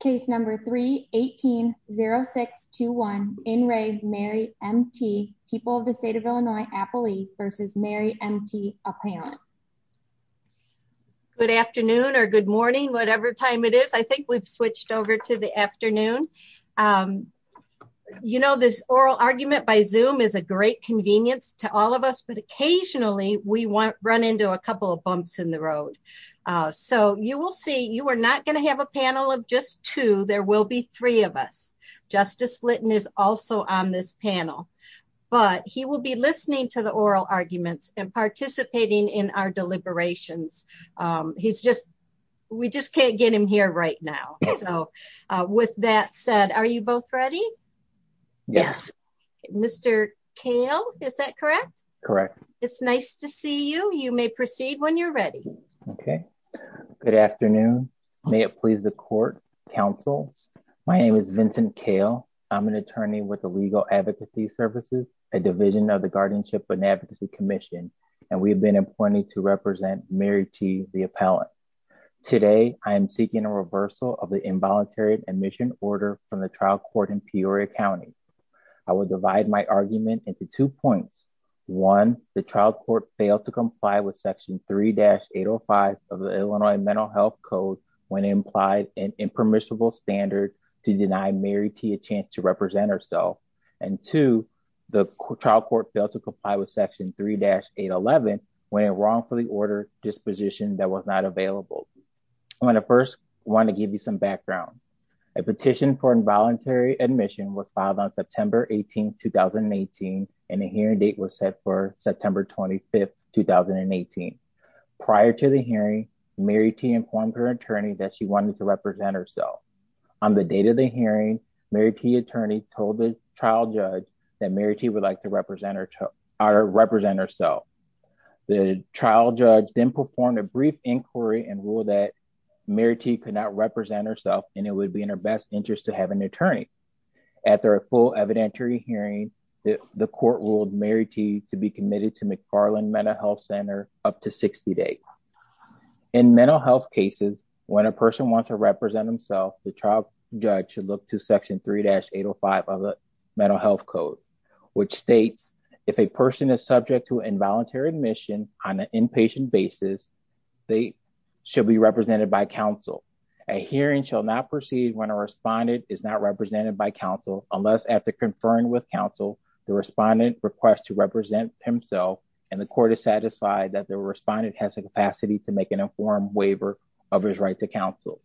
Case number 318-0621. In re Mary M.T. People of the State of Illinois Appley versus Mary M.T. Appeyant. Good afternoon or good morning whatever time it is. I think we've switched over to the afternoon. You know this oral argument by Zoom is a great convenience to all of us but occasionally we want run into a couple of bumps in the road. So you will see you are not going to have a panel of just two there will be three of us. Justice Litton is also on this panel but he will be listening to the oral arguments and participating in our deliberations. He's just we just can't get him here right now. So with that said are you both ready? Yes. Mr. Kale is that correct? Correct. It's nice to see you. You may proceed when you're ready. Okay good afternoon. May it please the counsel. My name is Vincent Kale. I'm an attorney with the Legal Advocacy Services, a division of the Guardianship and Advocacy Commission and we've been appointed to represent Mary T. the Appellant. Today I am seeking a reversal of the involuntary admission order from the trial court in Peoria County. I will divide my argument into two points. One the trial court failed to comply with section 3-805 of the Illinois Mental Health Code when implied an impermissible standard to deny Mary T a chance to represent herself and two the trial court failed to comply with section 3-811 when it wrongfully ordered disposition that was not available. I'm going to first want to give you some background. A petition for involuntary admission was filed on September 18, 2018 and a hearing date was set for September 25, 2018. Prior to the hearing, Mary T informed her attorney that she wanted to represent herself. On the date of the hearing, Mary T attorney told the trial judge that Mary T would like to represent herself. The trial judge then performed a brief inquiry and ruled that Mary T could not represent herself and it would be in her best interest to have an attorney. After a full evidentiary hearing, the court ruled Mary T to be committed to McFarland Mental Health Center up to 60 days. In mental health cases, when a person wants to represent themselves, the trial judge should look to section 3-805 of the Mental Health Code which states if a person is subject to involuntary admission on an inpatient basis, they should be represented by counsel. A hearing shall not proceed when a respondent is not represented by counsel unless after conferring with counsel, the respondent requests to represent himself and the court is satisfied that the respondent has the capacity to make an informed waiver of his right to counsel.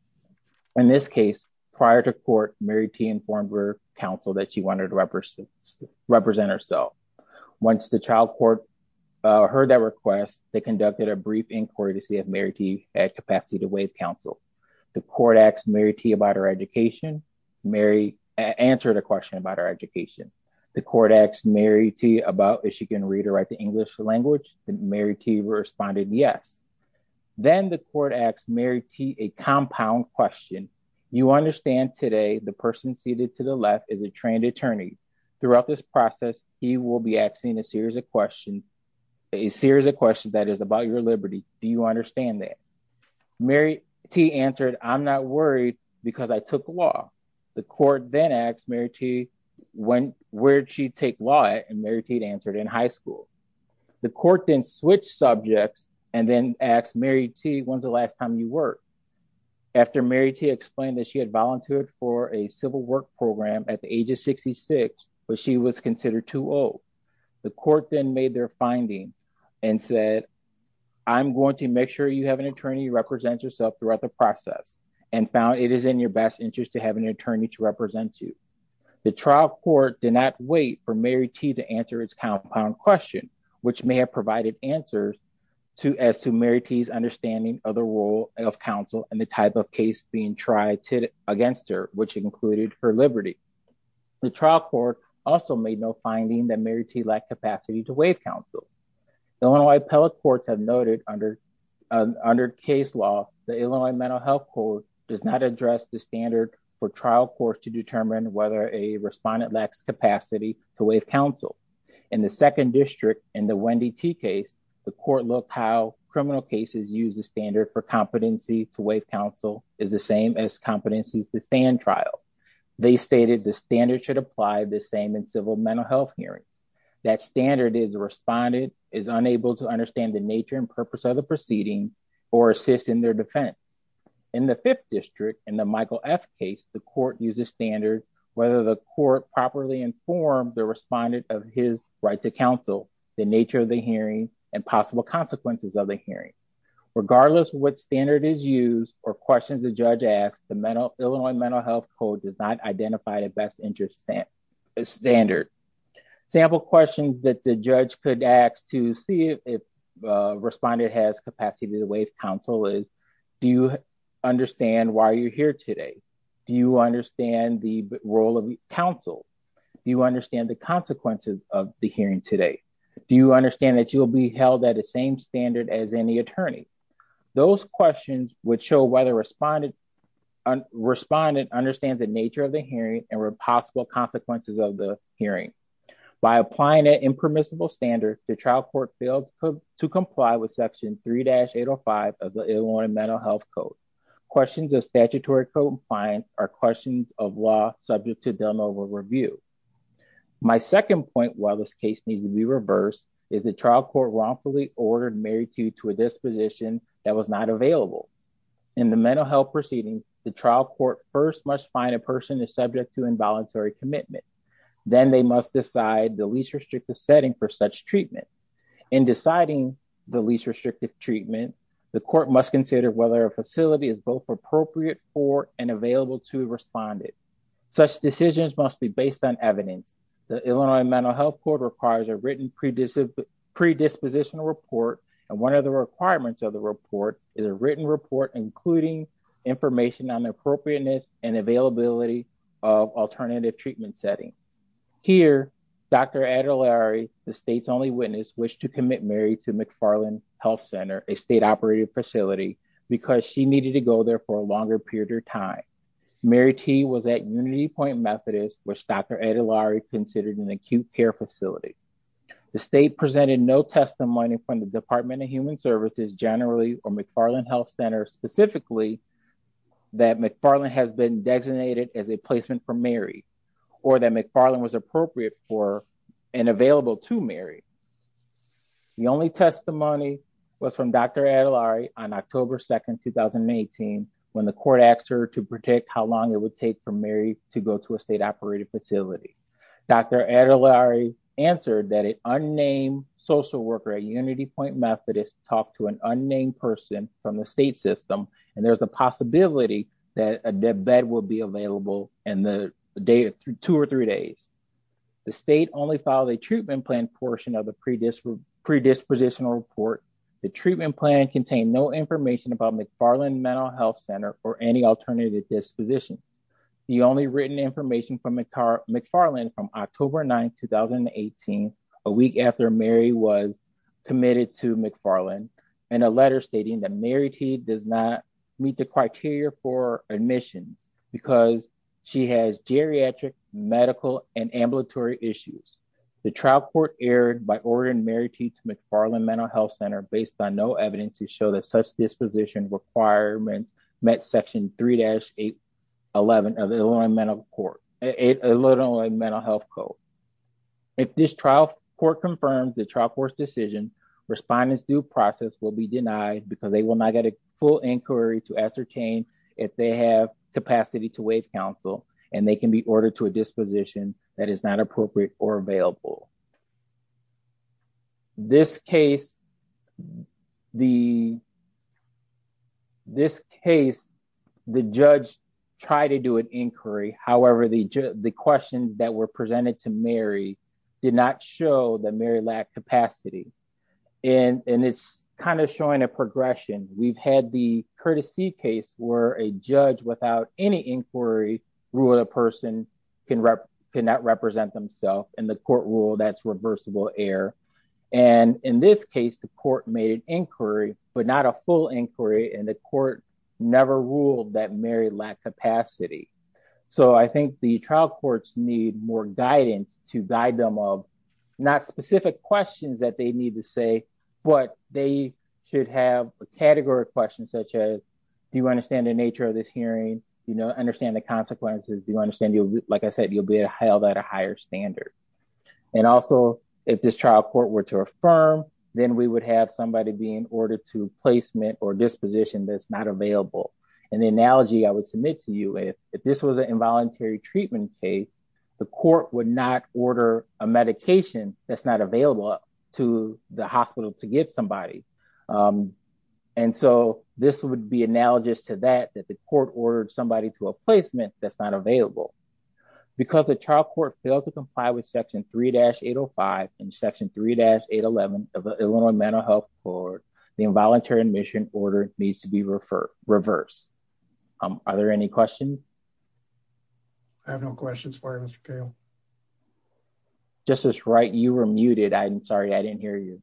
In this case, prior to court, Mary T informed her counsel that she wanted to represent herself. Once the trial court heard that request, they conducted a brief inquiry to see if Mary T had capacity to waive counsel. The court asked Mary T about her education. Mary answered a question about her education. The court asked Mary T about if she can read or write the English language. Mary T responded yes. Then the court asked Mary T a compound question. You understand today the person seated to the left is a trained attorney. Throughout this process, he will be asking a series of questions, a series of questions that is about your liberty. Do you Mary T, where did she take law at? Mary T answered in high school. The court then switched subjects and then asked Mary T, when is the last time you worked? After Mary T explained that she had volunteered for a civil work program at the age of 66, but she was considered too old, the court then made their finding and said, I'm going to make sure you have an attorney represent yourself throughout the process and found it is in your best interest to have an attorney represent you. The trial court did not wait for Mary T to answer its compound question, which may have provided answers as to Mary T's understanding of the role of counsel and the type of case being tried against her, which included her liberty. The trial court also made no finding that Mary T lacked capacity to waive counsel. Illinois appellate courts have noted under case law, the Illinois mental health court does not address the standard for trial court to determine whether a respondent lacks capacity to waive counsel. In the second district, in the Wendy T case, the court looked how criminal cases use the standard for competency to waive counsel is the same as competencies to stand trial. They stated the standard should apply the same in civil mental health hearings. That standard is the respondent is unable to understand the nature and purpose of the proceeding or assist in their defense. In the fifth district, in the Michael F case, the court uses standard, whether the court properly informed the respondent of his right to counsel, the nature of the hearing and possible consequences of the hearing, regardless of what standard is used or questions the judge asks, the Illinois mental health code does not identify the best interest standard. Sample questions that the judge could ask to see if a respondent has capacity to waive counsel is, do you understand why you're here today? Do you understand the role of counsel? Do you understand the consequences of the hearing today? Do you understand that you will be held at the same standard as any attorney? Those questions would show whether respondent understands the nature of the hearing and were possible consequences of the hearing. By applying an impermissible standard, the trial court failed to comply with section 3-805 of the Illinois mental health code. Questions of statutory compliance are questions of law subject to deliverable review. My second point, while this case needs to be reversed, is the trial court wrongfully ordered Mary Tue to a disposition that was not available. In the mental health proceedings, the trial court first must find a person is subject to then they must decide the least restrictive setting for such treatment. In deciding the least restrictive treatment, the court must consider whether a facility is both appropriate for and available to a respondent. Such decisions must be based on evidence. The Illinois mental health court requires a written predispositional report and one of the requirements of the report is a written report including information on appropriateness and availability of alternative treatment setting. Here, Dr. Adelari, the state's only witness, wished to commit Mary to McFarland Health Center, a state-operated facility, because she needed to go there for a longer period of time. Mary Tue was at UnityPoint Methodist, which Dr. Adelari considered an acute care facility. The state presented no testimony from the Department of Human Services generally or McFarland Health Center specifically that McFarland has been designated as a placement for Mary or that McFarland was appropriate for and available to Mary. The only testimony was from Dr. Adelari on October 2, 2018, when the court asked her to predict how long it would take for Mary to go to a state-operated facility. Dr. Adelari answered that an unnamed social worker at UnityPoint Methodist talked to an unnamed person from the state system and there's a possibility that a dead bed will be available in two or three days. The state only filed a treatment plan portion of the predispositional report. The treatment plan contained no information about McFarland Mental Health Center or any alternative disposition. The only written information from McFarland from October 9, 2018, a week after Mary was committed to McFarland and a letter stating that Mary Tue does not meet the criteria for admissions because she has geriatric, medical, and ambulatory issues. The trial court erred by ordering Mary Tue to McFarland Mental Health Code. If this trial court confirms the trial court's decision, respondent's due process will be denied because they will not get a full inquiry to ascertain if they have capacity to waive counsel and they can be ordered to a disposition that is not appropriate or available. In this case, the judge tried to do an inquiry. However, the questions that were presented to Mary did not show that Mary lacked capacity and it's kind of showing a progression. We've had the courtesy case where a judge without any inquiry ruled a person cannot represent themself and the court ruled that's reversible error. In this case, the court made an inquiry but not a full inquiry and the court never ruled that Mary lacked capacity. I think the trial courts need more guidance to guide them of not specific questions that they need to say, but they should have a category of questions such as, do you understand the nature of this hearing? Do you understand the consequences? Do you understand, like I said, you'll be held at a higher standard. And also if this trial court were to affirm, then we would have somebody be in order to placement or disposition that's not available. And the analogy I would submit to you, if this was an involuntary treatment case, the court would not order a medication that's not available to the hospital to get somebody. And so this would be analogous to that, that the court ordered somebody to a 3-805 and section 3-811 of the Illinois Mental Health Court, the involuntary admission order needs to be reversed. Are there any questions? I have no questions for you, Mr. Cale. Justice Wright, you were muted. I'm sorry, I didn't hear you.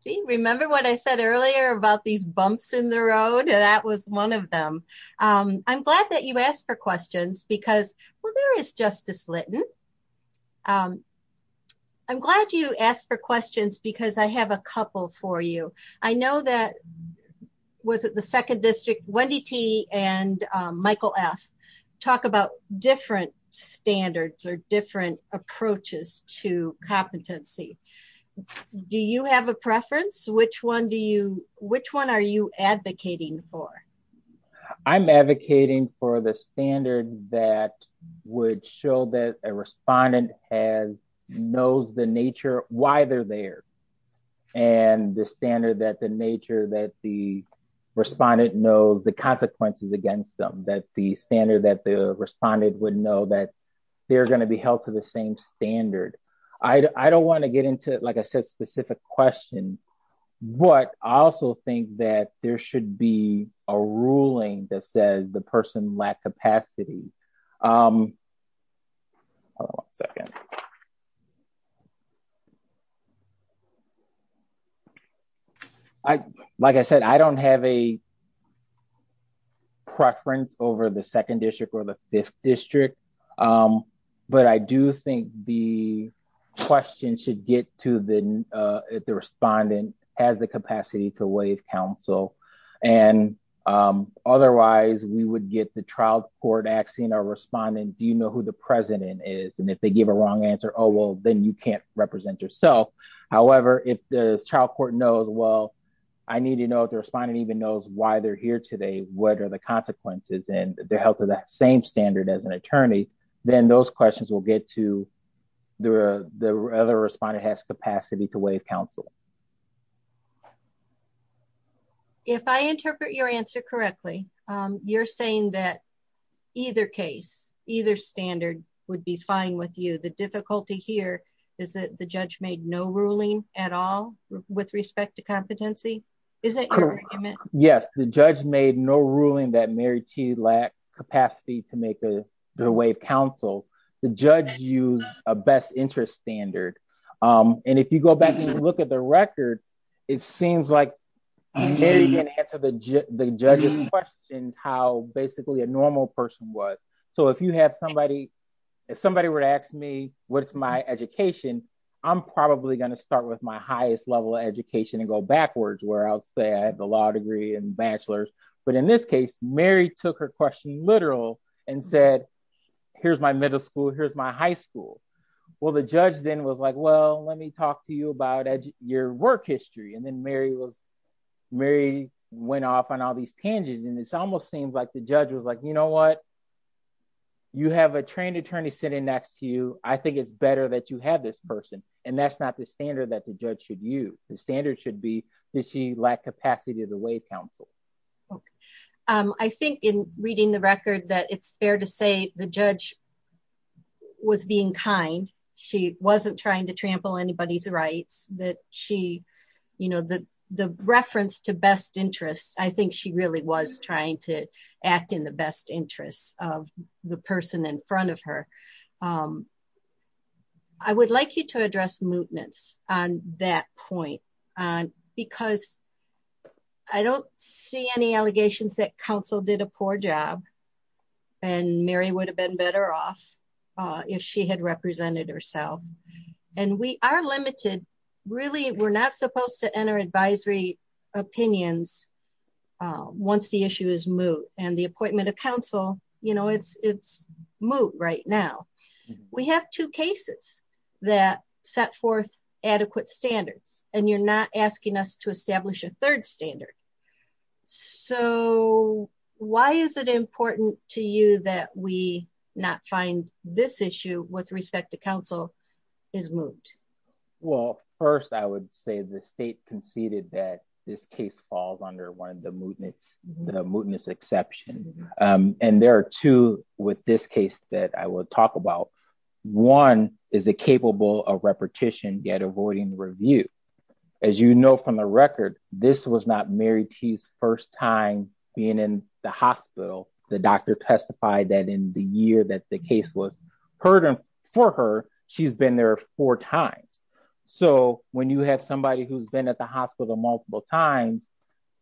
See, remember what I said earlier about these bumps in the road? That was one of them. I'm glad that you asked for questions because, well, there is Justice Litton. I'm glad you asked for questions because I have a couple for you. I know that, was it the second district, Wendy T. and Michael F. talk about different standards or different approaches to competency. Do you have a preference? Which one are you advocating for? I'm advocating for the standard that would show that a respondent has, knows the nature why they're there. And the standard that the nature that the respondent knows the consequences against them, that the standard that the respondent would know that they're going to be held to the same standard. I don't want to get into, like I said, specific questions, but I also think that there should be a ruling that says the person lacked capacity. Hold on a second. Like I said, I don't have a preference over the second district or the fifth district, um, but I do think the question should get to the, uh, if the respondent has the capacity to waive counsel and, um, otherwise we would get the trial court asking our respondent, do you know who the president is? And if they give a wrong answer, oh, well then you can't represent yourself. However, if the trial court knows, well, I need to know if the respondent even knows why they're here today, what are the consequences and they're held to that same standard as an attorney, then those questions will get to the, uh, the other respondent has capacity to waive counsel. If I interpret your answer correctly, um, you're saying that either case, either standard would be fine with you. The difficulty here is that the judge made no ruling at all with respect to competency. Is that correct? Yes. The judge made no ruling that Mary T lacked capacity to make a good way of counsel. The judge used a best interest standard. Um, and if you go back and look at the record, it seems like Mary can answer the judge's questions how basically a normal person was. So if you have somebody, if somebody were to ask me, what's my education, I'm probably going to start with my highest level of education and go Mary took her question literal and said, here's my middle school. Here's my high school. Well, the judge then was like, well, let me talk to you about your work history. And then Mary was Mary went off on all these tangents. And it's almost seems like the judge was like, you know, what you have a trained attorney sitting next to you. I think it's better that you have this person. And that's not the standard that the judge should use. The standard should be she lacked capacity to the way counsel. Okay. Um, I think in reading the record that it's fair to say the judge was being kind. She wasn't trying to trample anybody's rights that she, you know, the, the reference to best interests. I think she really was trying to act in the best interests of the person in front of her. Um, I would like you to address mootness on that point. Um, because I don't see any allegations that counsel did a poor job and Mary would have been better off, uh, if she had represented herself and we are limited, really, we're not supposed to enter advisory opinions. Uh, once the issue is moot and the appointment of counsel, you know, it's, it's moot right now. We have two cases that set forth adequate standards and you're not asking us to establish a third standard. So why is it important to you that we not find this issue with respect to counsel is moot? Well, first I would say the state conceded that this case falls under one of the mootness, the mootness exception. Um, and there are two with this case that I will talk about. One is a capable of repetition yet avoiding review. As you know, from the record, this was not Mary T's first time being in the hospital. The doctor testified that in the year that the case was heard for her, she's been there four times. So when you have somebody who's been at the hospital multiple times,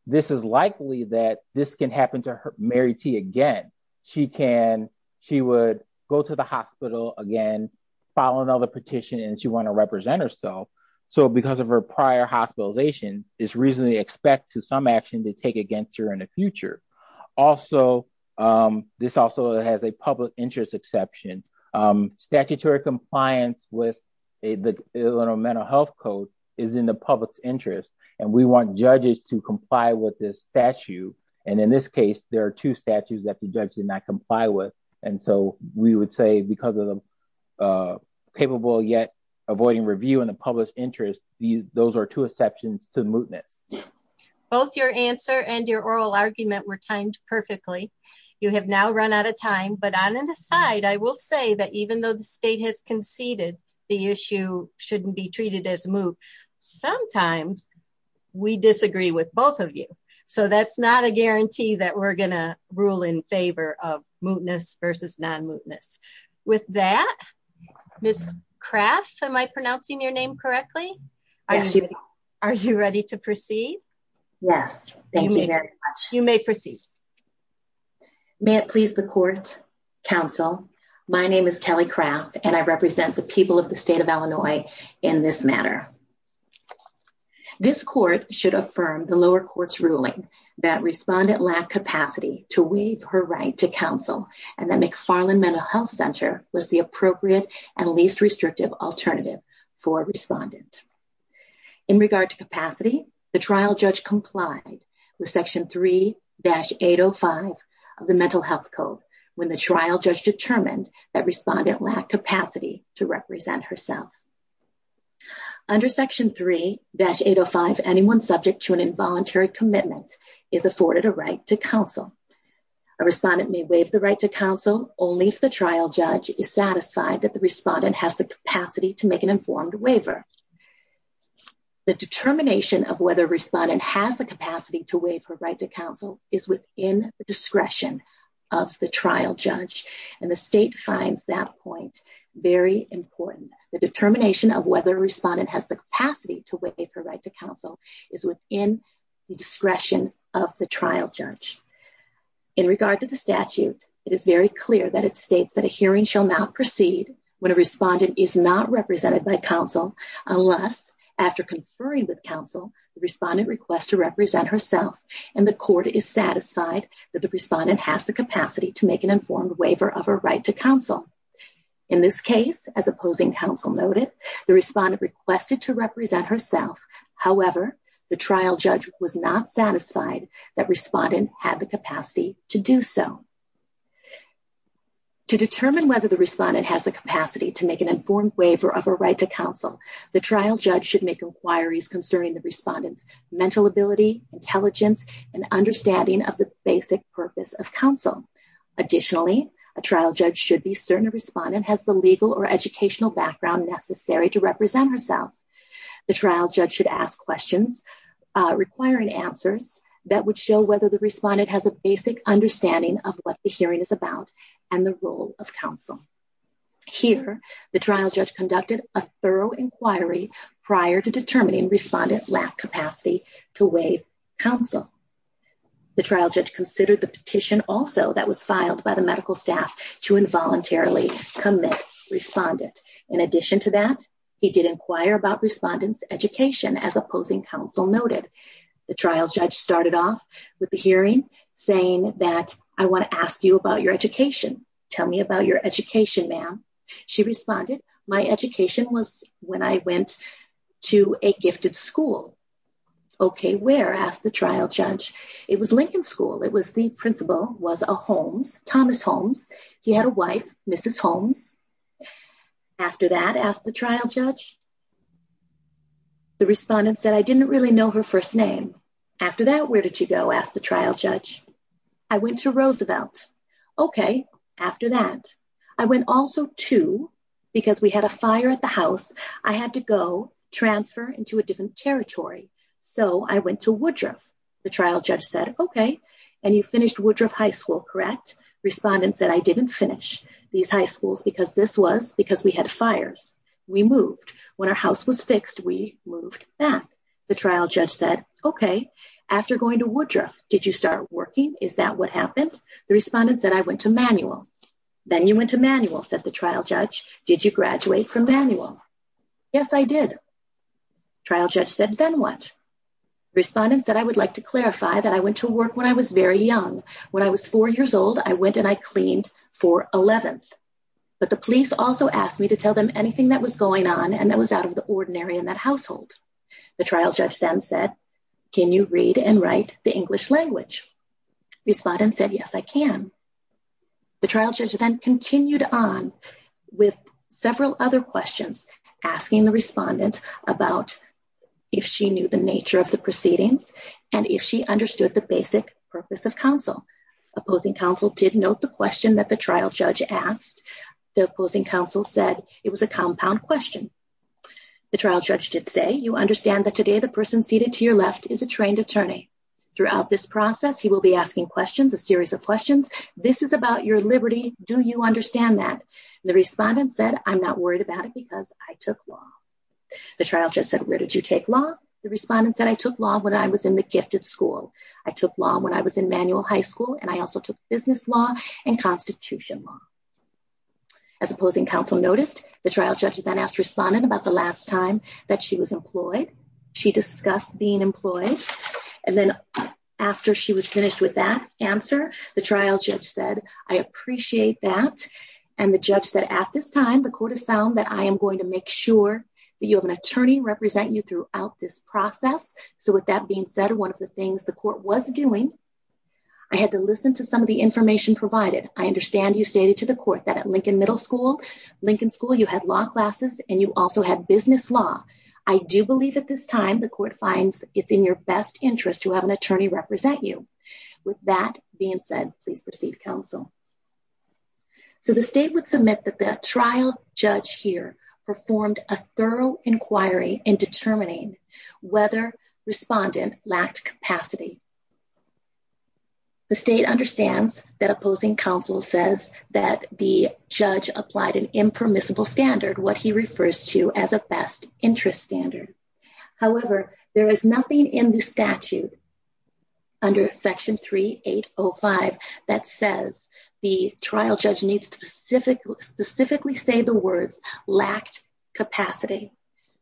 this is likely that this can happen to Mary T again. She can, she would go to the hospital again, file another petition and she want to represent herself. So because of her prior hospitalization is reasonably expect to some action to take against her in the future. Also, um, this also has a public interest exception, um, statutory compliance with a, the Illinois mental health code is in the public's interest and we want judges to comply with this statute. And in this case, there are two statutes that the judge did not comply with. And so we would say because of the, uh, capable yet avoiding review in the public's interest, those are two exceptions to mootness. Both your answer and your oral argument were timed perfectly. You have now run out of time, but on an aside, I will say that even though the state has conceded the issue shouldn't be treated as moot. Sometimes we disagree with both of you. So that's not a guarantee that we're going to rule in favor of mootness versus non-mootness. With that, this craft, am I pronouncing your name correctly? Are you ready to proceed? Yes. Thank you very much. You may proceed. May it please the court counsel. My name is Kelly craft and I represent the people of the state of Illinois in this matter. This court should affirm the lower courts ruling that respondent lack capacity to weave her right to counsel. And then McFarland mental health center was the appropriate and least restrictive alternative for respondent. In regard to capacity, the trial judge complied with section 3-805 of the mental health code. When the trial judge determined that respondent lack capacity to represent herself. Under section 3-805, anyone subject to an a respondent may waive the right to counsel only if the trial judge is satisfied that the respondent has the capacity to make an informed waiver. The determination of whether respondent has the capacity to waive her right to counsel is within the discretion of the trial judge. And the state finds that point very important. The determination of whether respondent has the capacity to waive her right to counsel is within the discretion of the trial judge. In regard to the statute, it is very clear that it states that a hearing shall not proceed when a respondent is not represented by counsel unless after conferring with counsel, the respondent requests to represent herself and the court is satisfied that the respondent has the capacity to make an informed waiver of her right to counsel. In this case, as opposing counsel noted, the respondent requested to represent herself. However, the trial judge was not satisfied that respondent had the capacity to do so. To determine whether the respondent has the capacity to make an informed waiver of her right to counsel, the trial judge should make inquiries concerning the respondent's mental ability, intelligence, and understanding of the basic purpose of counsel. Additionally, a trial judge should be certain a respondent has the legal or represent herself. The trial judge should ask questions requiring answers that would show whether the respondent has a basic understanding of what the hearing is about and the role of counsel. Here, the trial judge conducted a thorough inquiry prior to determining respondent lack capacity to waive counsel. The trial judge considered the petition also that was filed by the medical staff to involuntarily commit respondent. In addition to that, he did inquire about respondent's education as opposing counsel noted. The trial judge started off with the hearing saying that I want to ask you about your education. Tell me about your education, ma'am. She responded, my education was when I went to a gifted school. Okay, where asked the trial judge. It was Lincoln School. It was the principal was a Holmes, Thomas Holmes. He had a wife, Mrs. Holmes. After that, asked the trial judge. The respondent said, I didn't really know her first name. After that, where did you go? Asked the trial judge. I went to Roosevelt. Okay, after that, I went also to, because we had a fire at the house, I had to go transfer into different territory. So, I went to Woodruff. The trial judge said, okay, and you finished Woodruff High School, correct? Respondent said, I didn't finish these high schools because this was because we had fires. We moved. When our house was fixed, we moved back. The trial judge said, okay, after going to Woodruff, did you start working? Is that what happened? The respondent said, I went to Manuel. Then you went to Manuel, said the trial judge. Did you graduate from Manuel? The trial judge said, then what? Respondent said, I would like to clarify that I went to work when I was very young. When I was four years old, I went and I cleaned for 11th. But the police also asked me to tell them anything that was going on and that was out of the ordinary in that household. The trial judge then said, can you read and write the English language? Respondent said, yes, I can. The trial judge then continued on with several other questions, asking the respondent about if she knew the nature of the proceedings and if she understood the basic purpose of counsel. Opposing counsel did note the question that the trial judge asked. The opposing counsel said it was a compound question. The trial judge did say, you understand that today the person seated to your left is a trained attorney. Throughout this process, he will be asking questions, a series of questions. This is about your liberty. Do you understand that? The respondent said, I'm not worried about it because I took law. The trial judge said, where did you take law? The respondent said, I took law when I was in the gifted school. I took law when I was in manual high school and I also took business law and constitution law. As opposing counsel noticed, the trial judge then asked respondent about the last time that she was employed. She discussed being employed and then after she was finished with that answer, the trial judge said, I appreciate that. And the judge said, at this time, the court has found that I am going to make sure that you have an attorney represent you throughout this process. So with that being said, one of the things the court was doing, I had to listen to some of the information provided. I understand you stated to the court that at Lincoln Middle School, Lincoln School, you had law classes and you also had business law. I do believe at this time the court finds it's in your best interest to have an attorney represent you. With that being said, please proceed counsel. So the state would submit that the trial judge here performed a thorough inquiry in determining whether respondent lacked capacity. The state understands that opposing counsel says that the judge applied an impermissible standard, what he refers to as a best interest standard. However, there is nothing in the statute under section 3805 that says the trial judge needs to specifically say the words lacked capacity.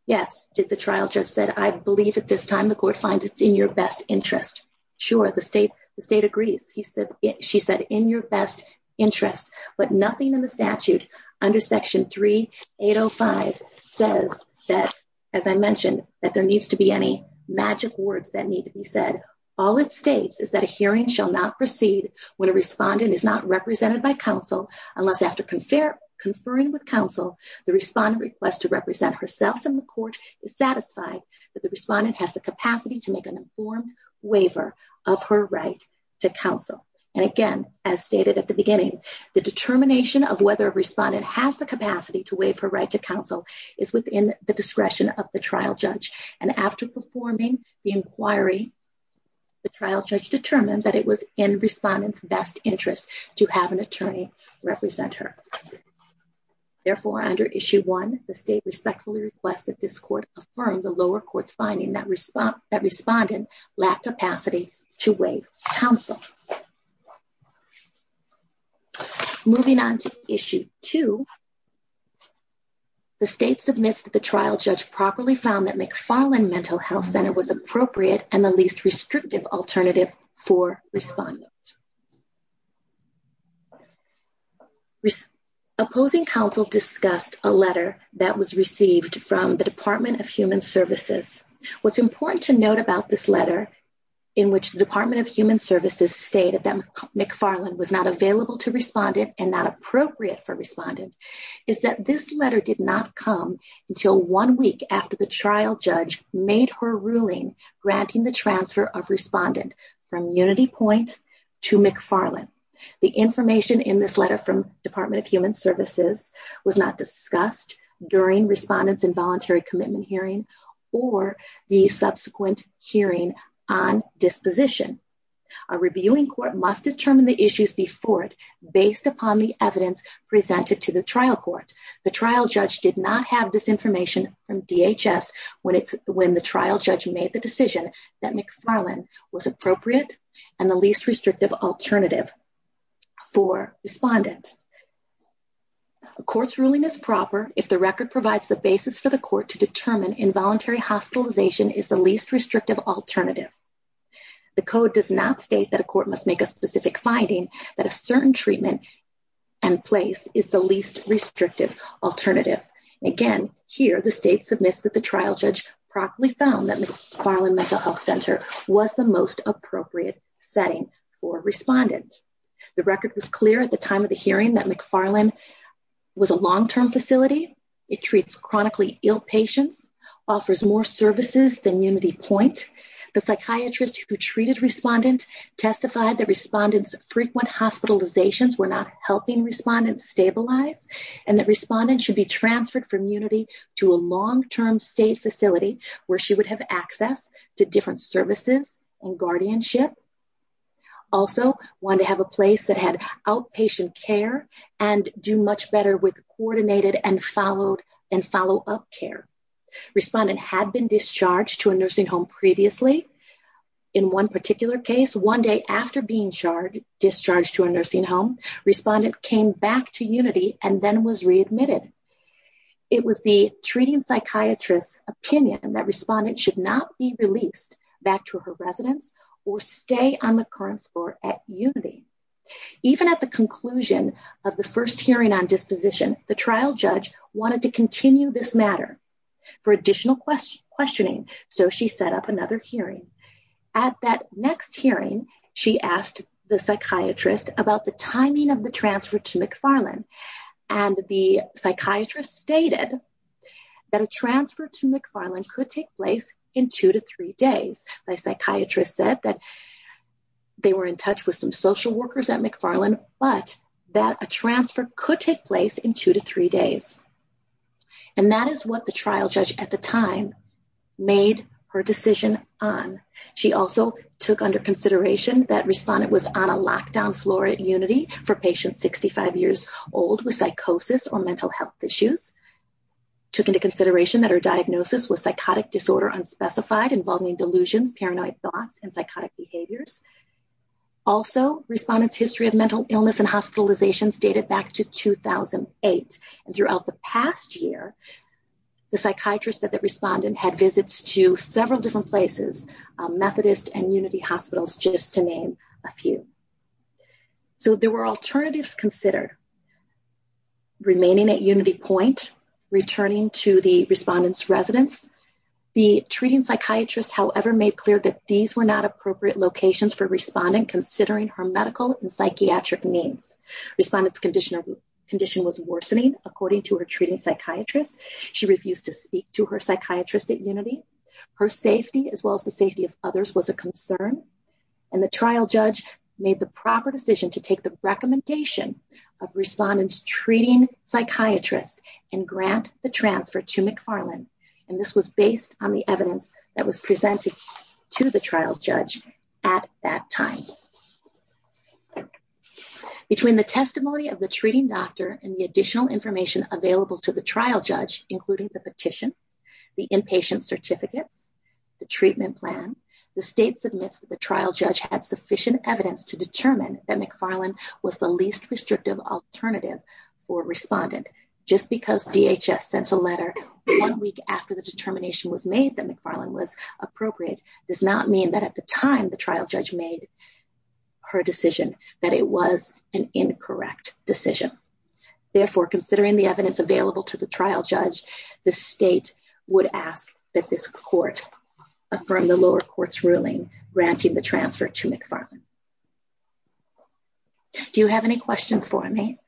Yes, did the trial judge said, I believe at this time the court finds it's in your best interest. Sure, the state agrees. She said, in your best interest, but magic words that need to be said. All it states is that a hearing shall not proceed when a respondent is not represented by counsel, unless after conferring with counsel, the respondent requests to represent herself and the court is satisfied that the respondent has the capacity to make an informed waiver of her right to counsel. And again, as stated at the beginning, the determination of whether a respondent has the capacity to waive her right to counsel is within the discretion of the trial judge. And after performing the inquiry, the trial judge determined that it was in respondent's best interest to have an attorney represent her. Therefore, under issue one, the state respectfully requests that this court affirm the lower court's finding that respondent lacked capacity to waive counsel. Moving on to issue two, the state submits that the trial judge properly found that McFarland Mental Health Center was appropriate and the least restrictive alternative for respondent. Opposing counsel discussed a letter that was received from the Department of Human Services. What's important to note about this letter, in which the Department of Human Services stated that McFarland was not available to respondent and not appropriate for respondent, is that this letter did not come until one week after the trial judge made her ruling granting the transfer of respondent from UnityPoint to McFarland. The information in this letter from Department of Human Services was not discussed during respondent's involuntary commitment hearing or the subsequent hearing on disposition. A reviewing court must determine the issues before it based upon the evidence presented to the trial court. The trial judge did not have this information from DHS when the trial judge made the decision that McFarland was appropriate and the least restrictive alternative for respondent. A court's ruling is proper if the involuntary hospitalization is the least restrictive alternative. The code does not state that a court must make a specific finding that a certain treatment and place is the least restrictive alternative. Again, here the state submits that the trial judge properly found that McFarland Mental Health Center was the most appropriate setting for respondent. The record was clear at the time of the hearing that McFarland was a long-term facility. It treats chronically ill patients, offers more services than UnityPoint. The psychiatrist who treated respondent testified that respondent's frequent hospitalizations were not helping respondent stabilize and that respondent should be transferred from Unity to a long-term state facility where she would have access to different services and guardianship. Also wanted to have a place that had outpatient care and do much better with coordinated and followed and follow-up care. Respondent had been discharged to a nursing home previously. In one particular case, one day after being discharged to a nursing home, respondent came back to Unity and then was readmitted. It was the treating psychiatrist's opinion that respondent should not be released back to her residence or stay on the current floor at Unity. Even at the conclusion of the first hearing on disposition, the trial judge wanted to continue this matter for additional questioning, so she set up another hearing. At that next hearing, she asked the psychiatrist about the timing of the transfer to McFarland and the psychiatrist stated that a transfer to McFarland could take place in two to three days. The social workers at McFarland, but that a transfer could take place in two to three days. And that is what the trial judge at the time made her decision on. She also took under consideration that respondent was on a lockdown floor at Unity for patients 65 years old with psychosis or mental health issues. Took into consideration that her diagnosis was psychotic disorder unspecified involving delusions, paranoid thoughts, and psychotic behaviors. Also, respondent's history of mental illness and hospitalizations dated back to 2008. And throughout the past year, the psychiatrist said that respondent had visits to several different places, Methodist and Unity hospitals, just to name a few. So there were alternatives considered. Remaining at Unity Point, returning to the psychiatrist, however, made clear that these were not appropriate locations for respondent considering her medical and psychiatric needs. Respondent's condition was worsening according to her treating psychiatrist. She refused to speak to her psychiatrist at Unity. Her safety, as well as the safety of others, was a concern. And the trial judge made the proper decision to take the recommendation of respondent's treating psychiatrist and grant the transfer to McFarland. And this was based on the evidence that was presented to the trial judge at that time. Between the testimony of the treating doctor and the additional information available to the trial judge, including the petition, the inpatient certificates, the treatment plan, the state submits that the trial judge had sufficient evidence to determine that McFarland was the least restrictive alternative for respondent. Just because DHS sent a letter one week after the determination was made that McFarland was appropriate does not mean that at the time the trial judge made her decision that it was an incorrect decision. Therefore, considering the evidence available to the trial judge, the state would ask that this court affirm the lower court's ruling granting the transfer to McFarland. Do you have any questions for me?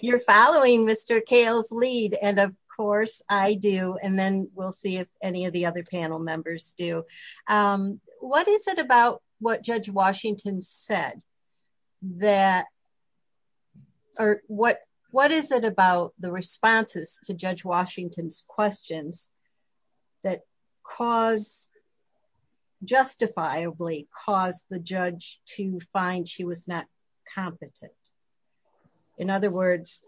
You're following Mr. Kahle's lead. And of course, I do. And then we'll see if any of the other panel members do. What is it about what Judge Washington said that, or what is it about the find she was not competent? In other words,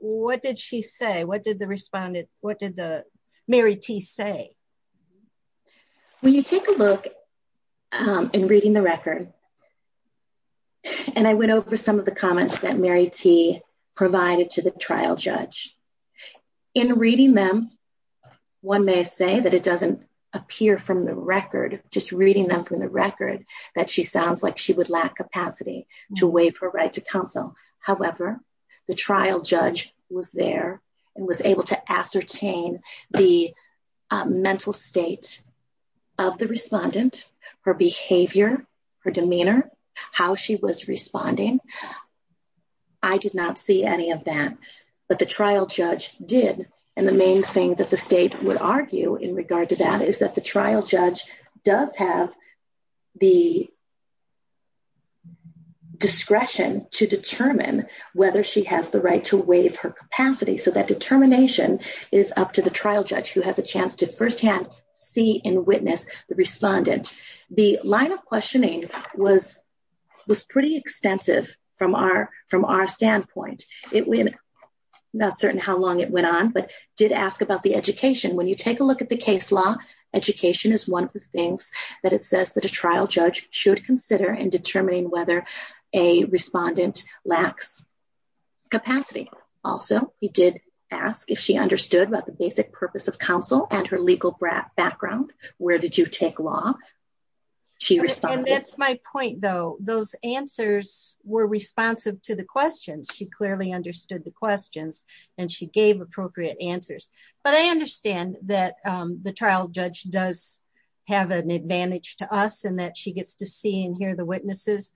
what did she say? What did the respondent, what did the Mary T. say? When you take a look in reading the record, and I went over some of the comments that Mary T. provided to the trial judge. In reading them, one may say that it doesn't appear from the record, just reading them from the record, that she sounds like she would lack capacity to waive her right to counsel. However, the trial judge was there and was able to ascertain the mental state of the respondent, her behavior, her demeanor, how she was responding. I did not see any of that, but the trial judge did. And the main thing that the state would argue in regard to that is that trial judge does have the discretion to determine whether she has the right to waive her capacity. So that determination is up to the trial judge, who has a chance to firsthand see and witness the respondent. The line of questioning was pretty extensive from our standpoint. Not certain how long it went on, but did ask about the education. When you take a look at the case law, education is one of the things that it says that a trial judge should consider in determining whether a respondent lacks capacity. Also, he did ask if she understood about the basic purpose of counsel and her legal background. Where did you take law? And that's my point, though. Those answers were responsive to the questions. She clearly understood the questions and she gave appropriate answers. But I understand that the trial judge does have an advantage to us and that she gets to see and hear the witnesses.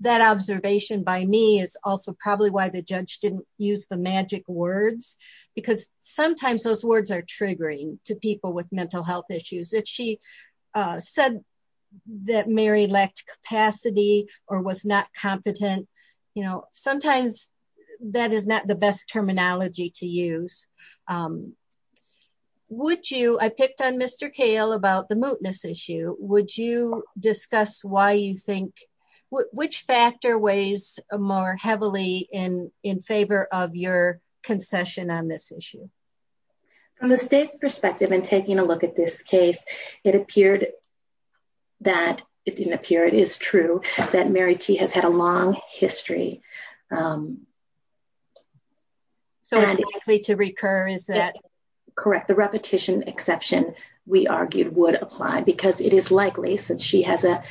That observation by me is also probably why the judge didn't use the magic words, because sometimes those words are triggering to people with mental health issues. If she said that Mary lacked capacity or was not competent, sometimes that is not the best terminology to use. I picked on Mr. Kahle about the mootness issue. Would you discuss why you think, which factor weighs more heavily in favor of your concession on this issue? From the state's perspective, in taking a look at this case, it appeared that it didn't appear, it is true, that Mary T has had a long history. So it's likely to recur, is that correct? The repetition exception, we argued, would apply, because it is likely, since she has a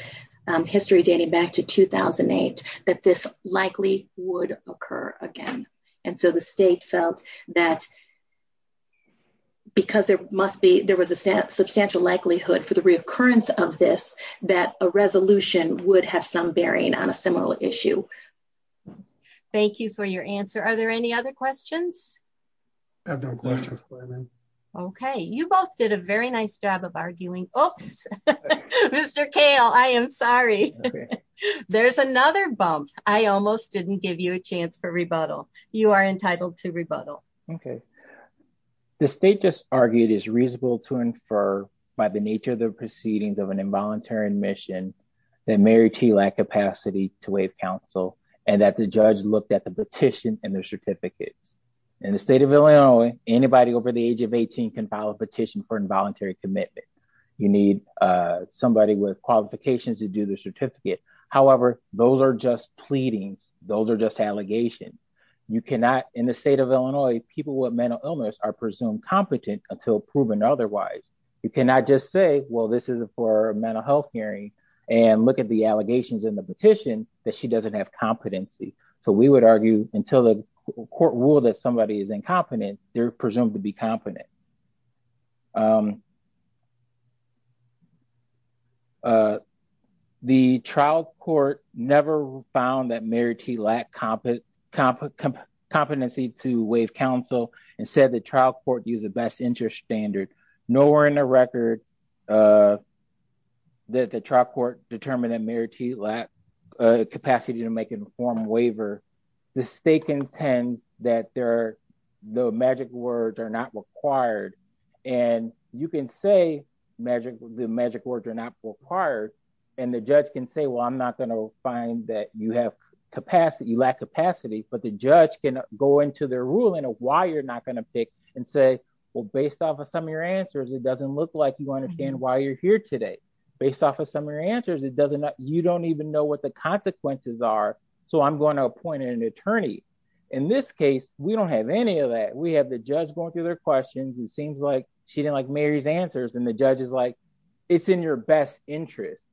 history dating back to 2008, that this likely would occur again. And so the state felt that because there must be, there was a substantial likelihood for the recurrence of this, that a resolution would have some bearing on a similar issue. Thank you for your answer. Are there any other questions? Okay, you both did a very nice job of arguing. Oops, Mr. Kahle, I am sorry. There's another bump. I almost didn't give you a chance for rebuttal. You are entitled to rebuttal. Okay. The state just argued it's reasonable to infer by the nature of the proceedings of an involuntary admission that Mary T lacked capacity to waive counsel and that the judge looked at the petition and the certificates. In the state of Illinois, anybody over the age of 18 can file a petition for involuntary commitment. You need somebody with qualifications to do the certificate. However, those are just pleadings. Those are just allegations. You cannot, in the state of Illinois, people with mental illness are presumed competent until proven otherwise. You cannot just say, well, this is for a mental health hearing and look at the allegations in the petition that she doesn't have competency. So we would argue until the court ruled that somebody is incompetent, they're presumed to be competent. The trial court never found that Mary T lacked competency to waive counsel and said the trial court used the best interest standard. Nowhere in the record that the trial court determined that Mary T lacked capacity to make informed waiver. The state contends that the magic words are not required. And you can say the magic words are not required and the judge can say, well, I'm not going to find that you have capacity, you lack capacity, but the judge can go into their ruling of why you're not going to pick and say, well, based off of some of your answers, it doesn't look like you understand why you're here today. Based off of some of your answers, you don't even know what the consequences are. So I'm going to appoint an attorney. In this case, we don't have any of that. We have the judge going through their questions and seems like she didn't like Mary's answers and the judge is like, it's in your best interest.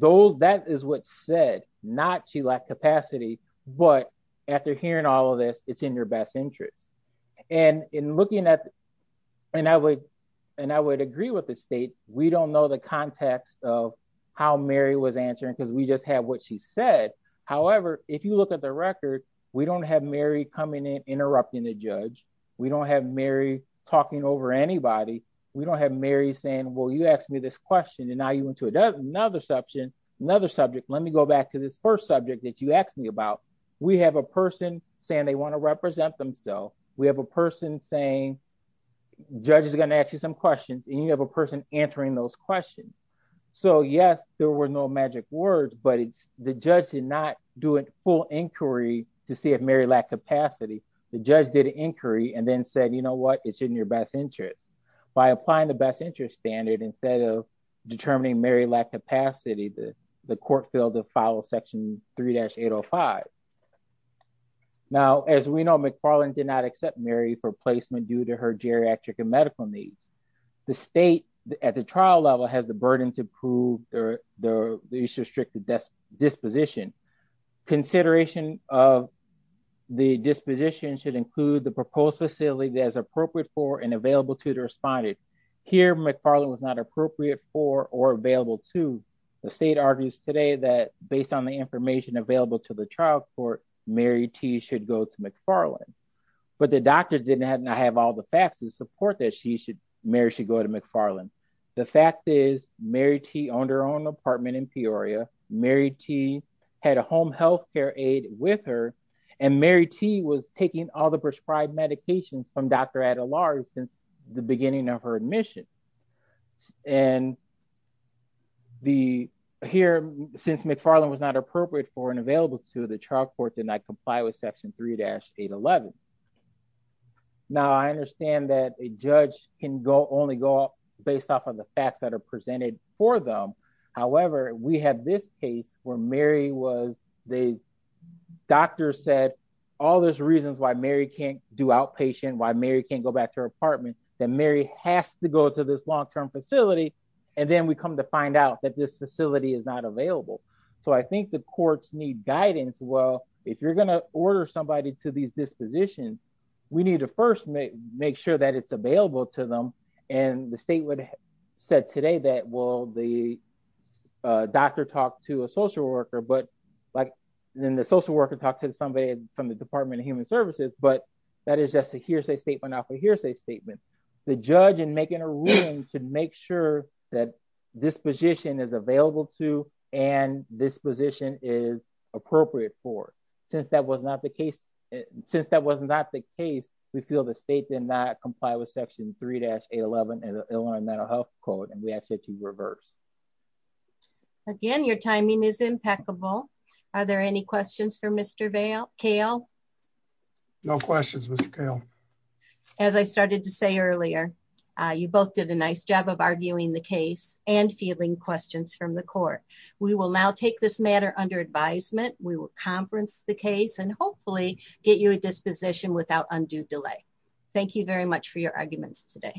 That is what's said, not she lacked capacity, but after hearing all of this, it's in your best interest. And in looking at, and I would agree with the state, we don't know the context of how Mary was answering because we just have what she said. However, if you look at the record, we don't have Mary coming in, interrupting the judge. We don't have Mary talking over anybody. We don't have Mary saying, well, you asked me this question and now you went to another subject. Let me go back to this first subject that you asked me about. We have a person saying they want to represent themselves. We have a person saying, judge is going to ask you some questions and you have a person answering those questions. So yes, there were no magic words, but the judge did not do a full inquiry to see if Mary lacked capacity. The judge did an inquiry and then said, you know what, it's in your best interest. By applying the best interest standard instead of determining Mary lacked capacity, the court failed to follow section 3-805. Now, as we know, McFarland did not accept Mary for placement due her geriatric and medical needs. The state at the trial level has the burden to prove the issue of restricted disposition. Consideration of the disposition should include the proposed facility that is appropriate for and available to the respondent. Here, McFarland was not appropriate for or available to. The state argues today that based on the information available to the trial Mary T. should go to McFarland, but the doctor did not have all the facts to support that Mary should go to McFarland. The fact is Mary T. owned her own apartment in Peoria. Mary T. had a home health care aide with her and Mary T. was taking all the prescribed medications from Dr. Adelard since the beginning of her admission. And here, since McFarland was not appropriate for and did not comply with section 3-811. Now, I understand that a judge can only go off based off of the facts that are presented for them. However, we have this case where Mary was, the doctor said, all those reasons why Mary can't do outpatient, why Mary can't go back to her apartment, that Mary has to go to this long-term facility. And then we come to find out that this if you're going to order somebody to these dispositions, we need to first make sure that it's available to them. And the state would have said today that, well, the doctor talked to a social worker, but then the social worker talked to somebody from the Department of Human Services, but that is just a hearsay statement off a hearsay statement. The judge in making a ruling to make that disposition is available to, and this position is appropriate for, since that was not the case, since that was not the case, we feel the state did not comply with section 3-811 and Illinois mental health code. And we actually had to reverse. Again, your timing is impeccable. Are there any questions for Mr. Vail, Kale? No questions, Mr. Kale. As I started to say earlier, you both did a nice job of arguing the case and fielding questions from the court. We will now take this matter under advisement. We will conference the case and hopefully get you a disposition without undue delay. Thank you very much for your arguments today.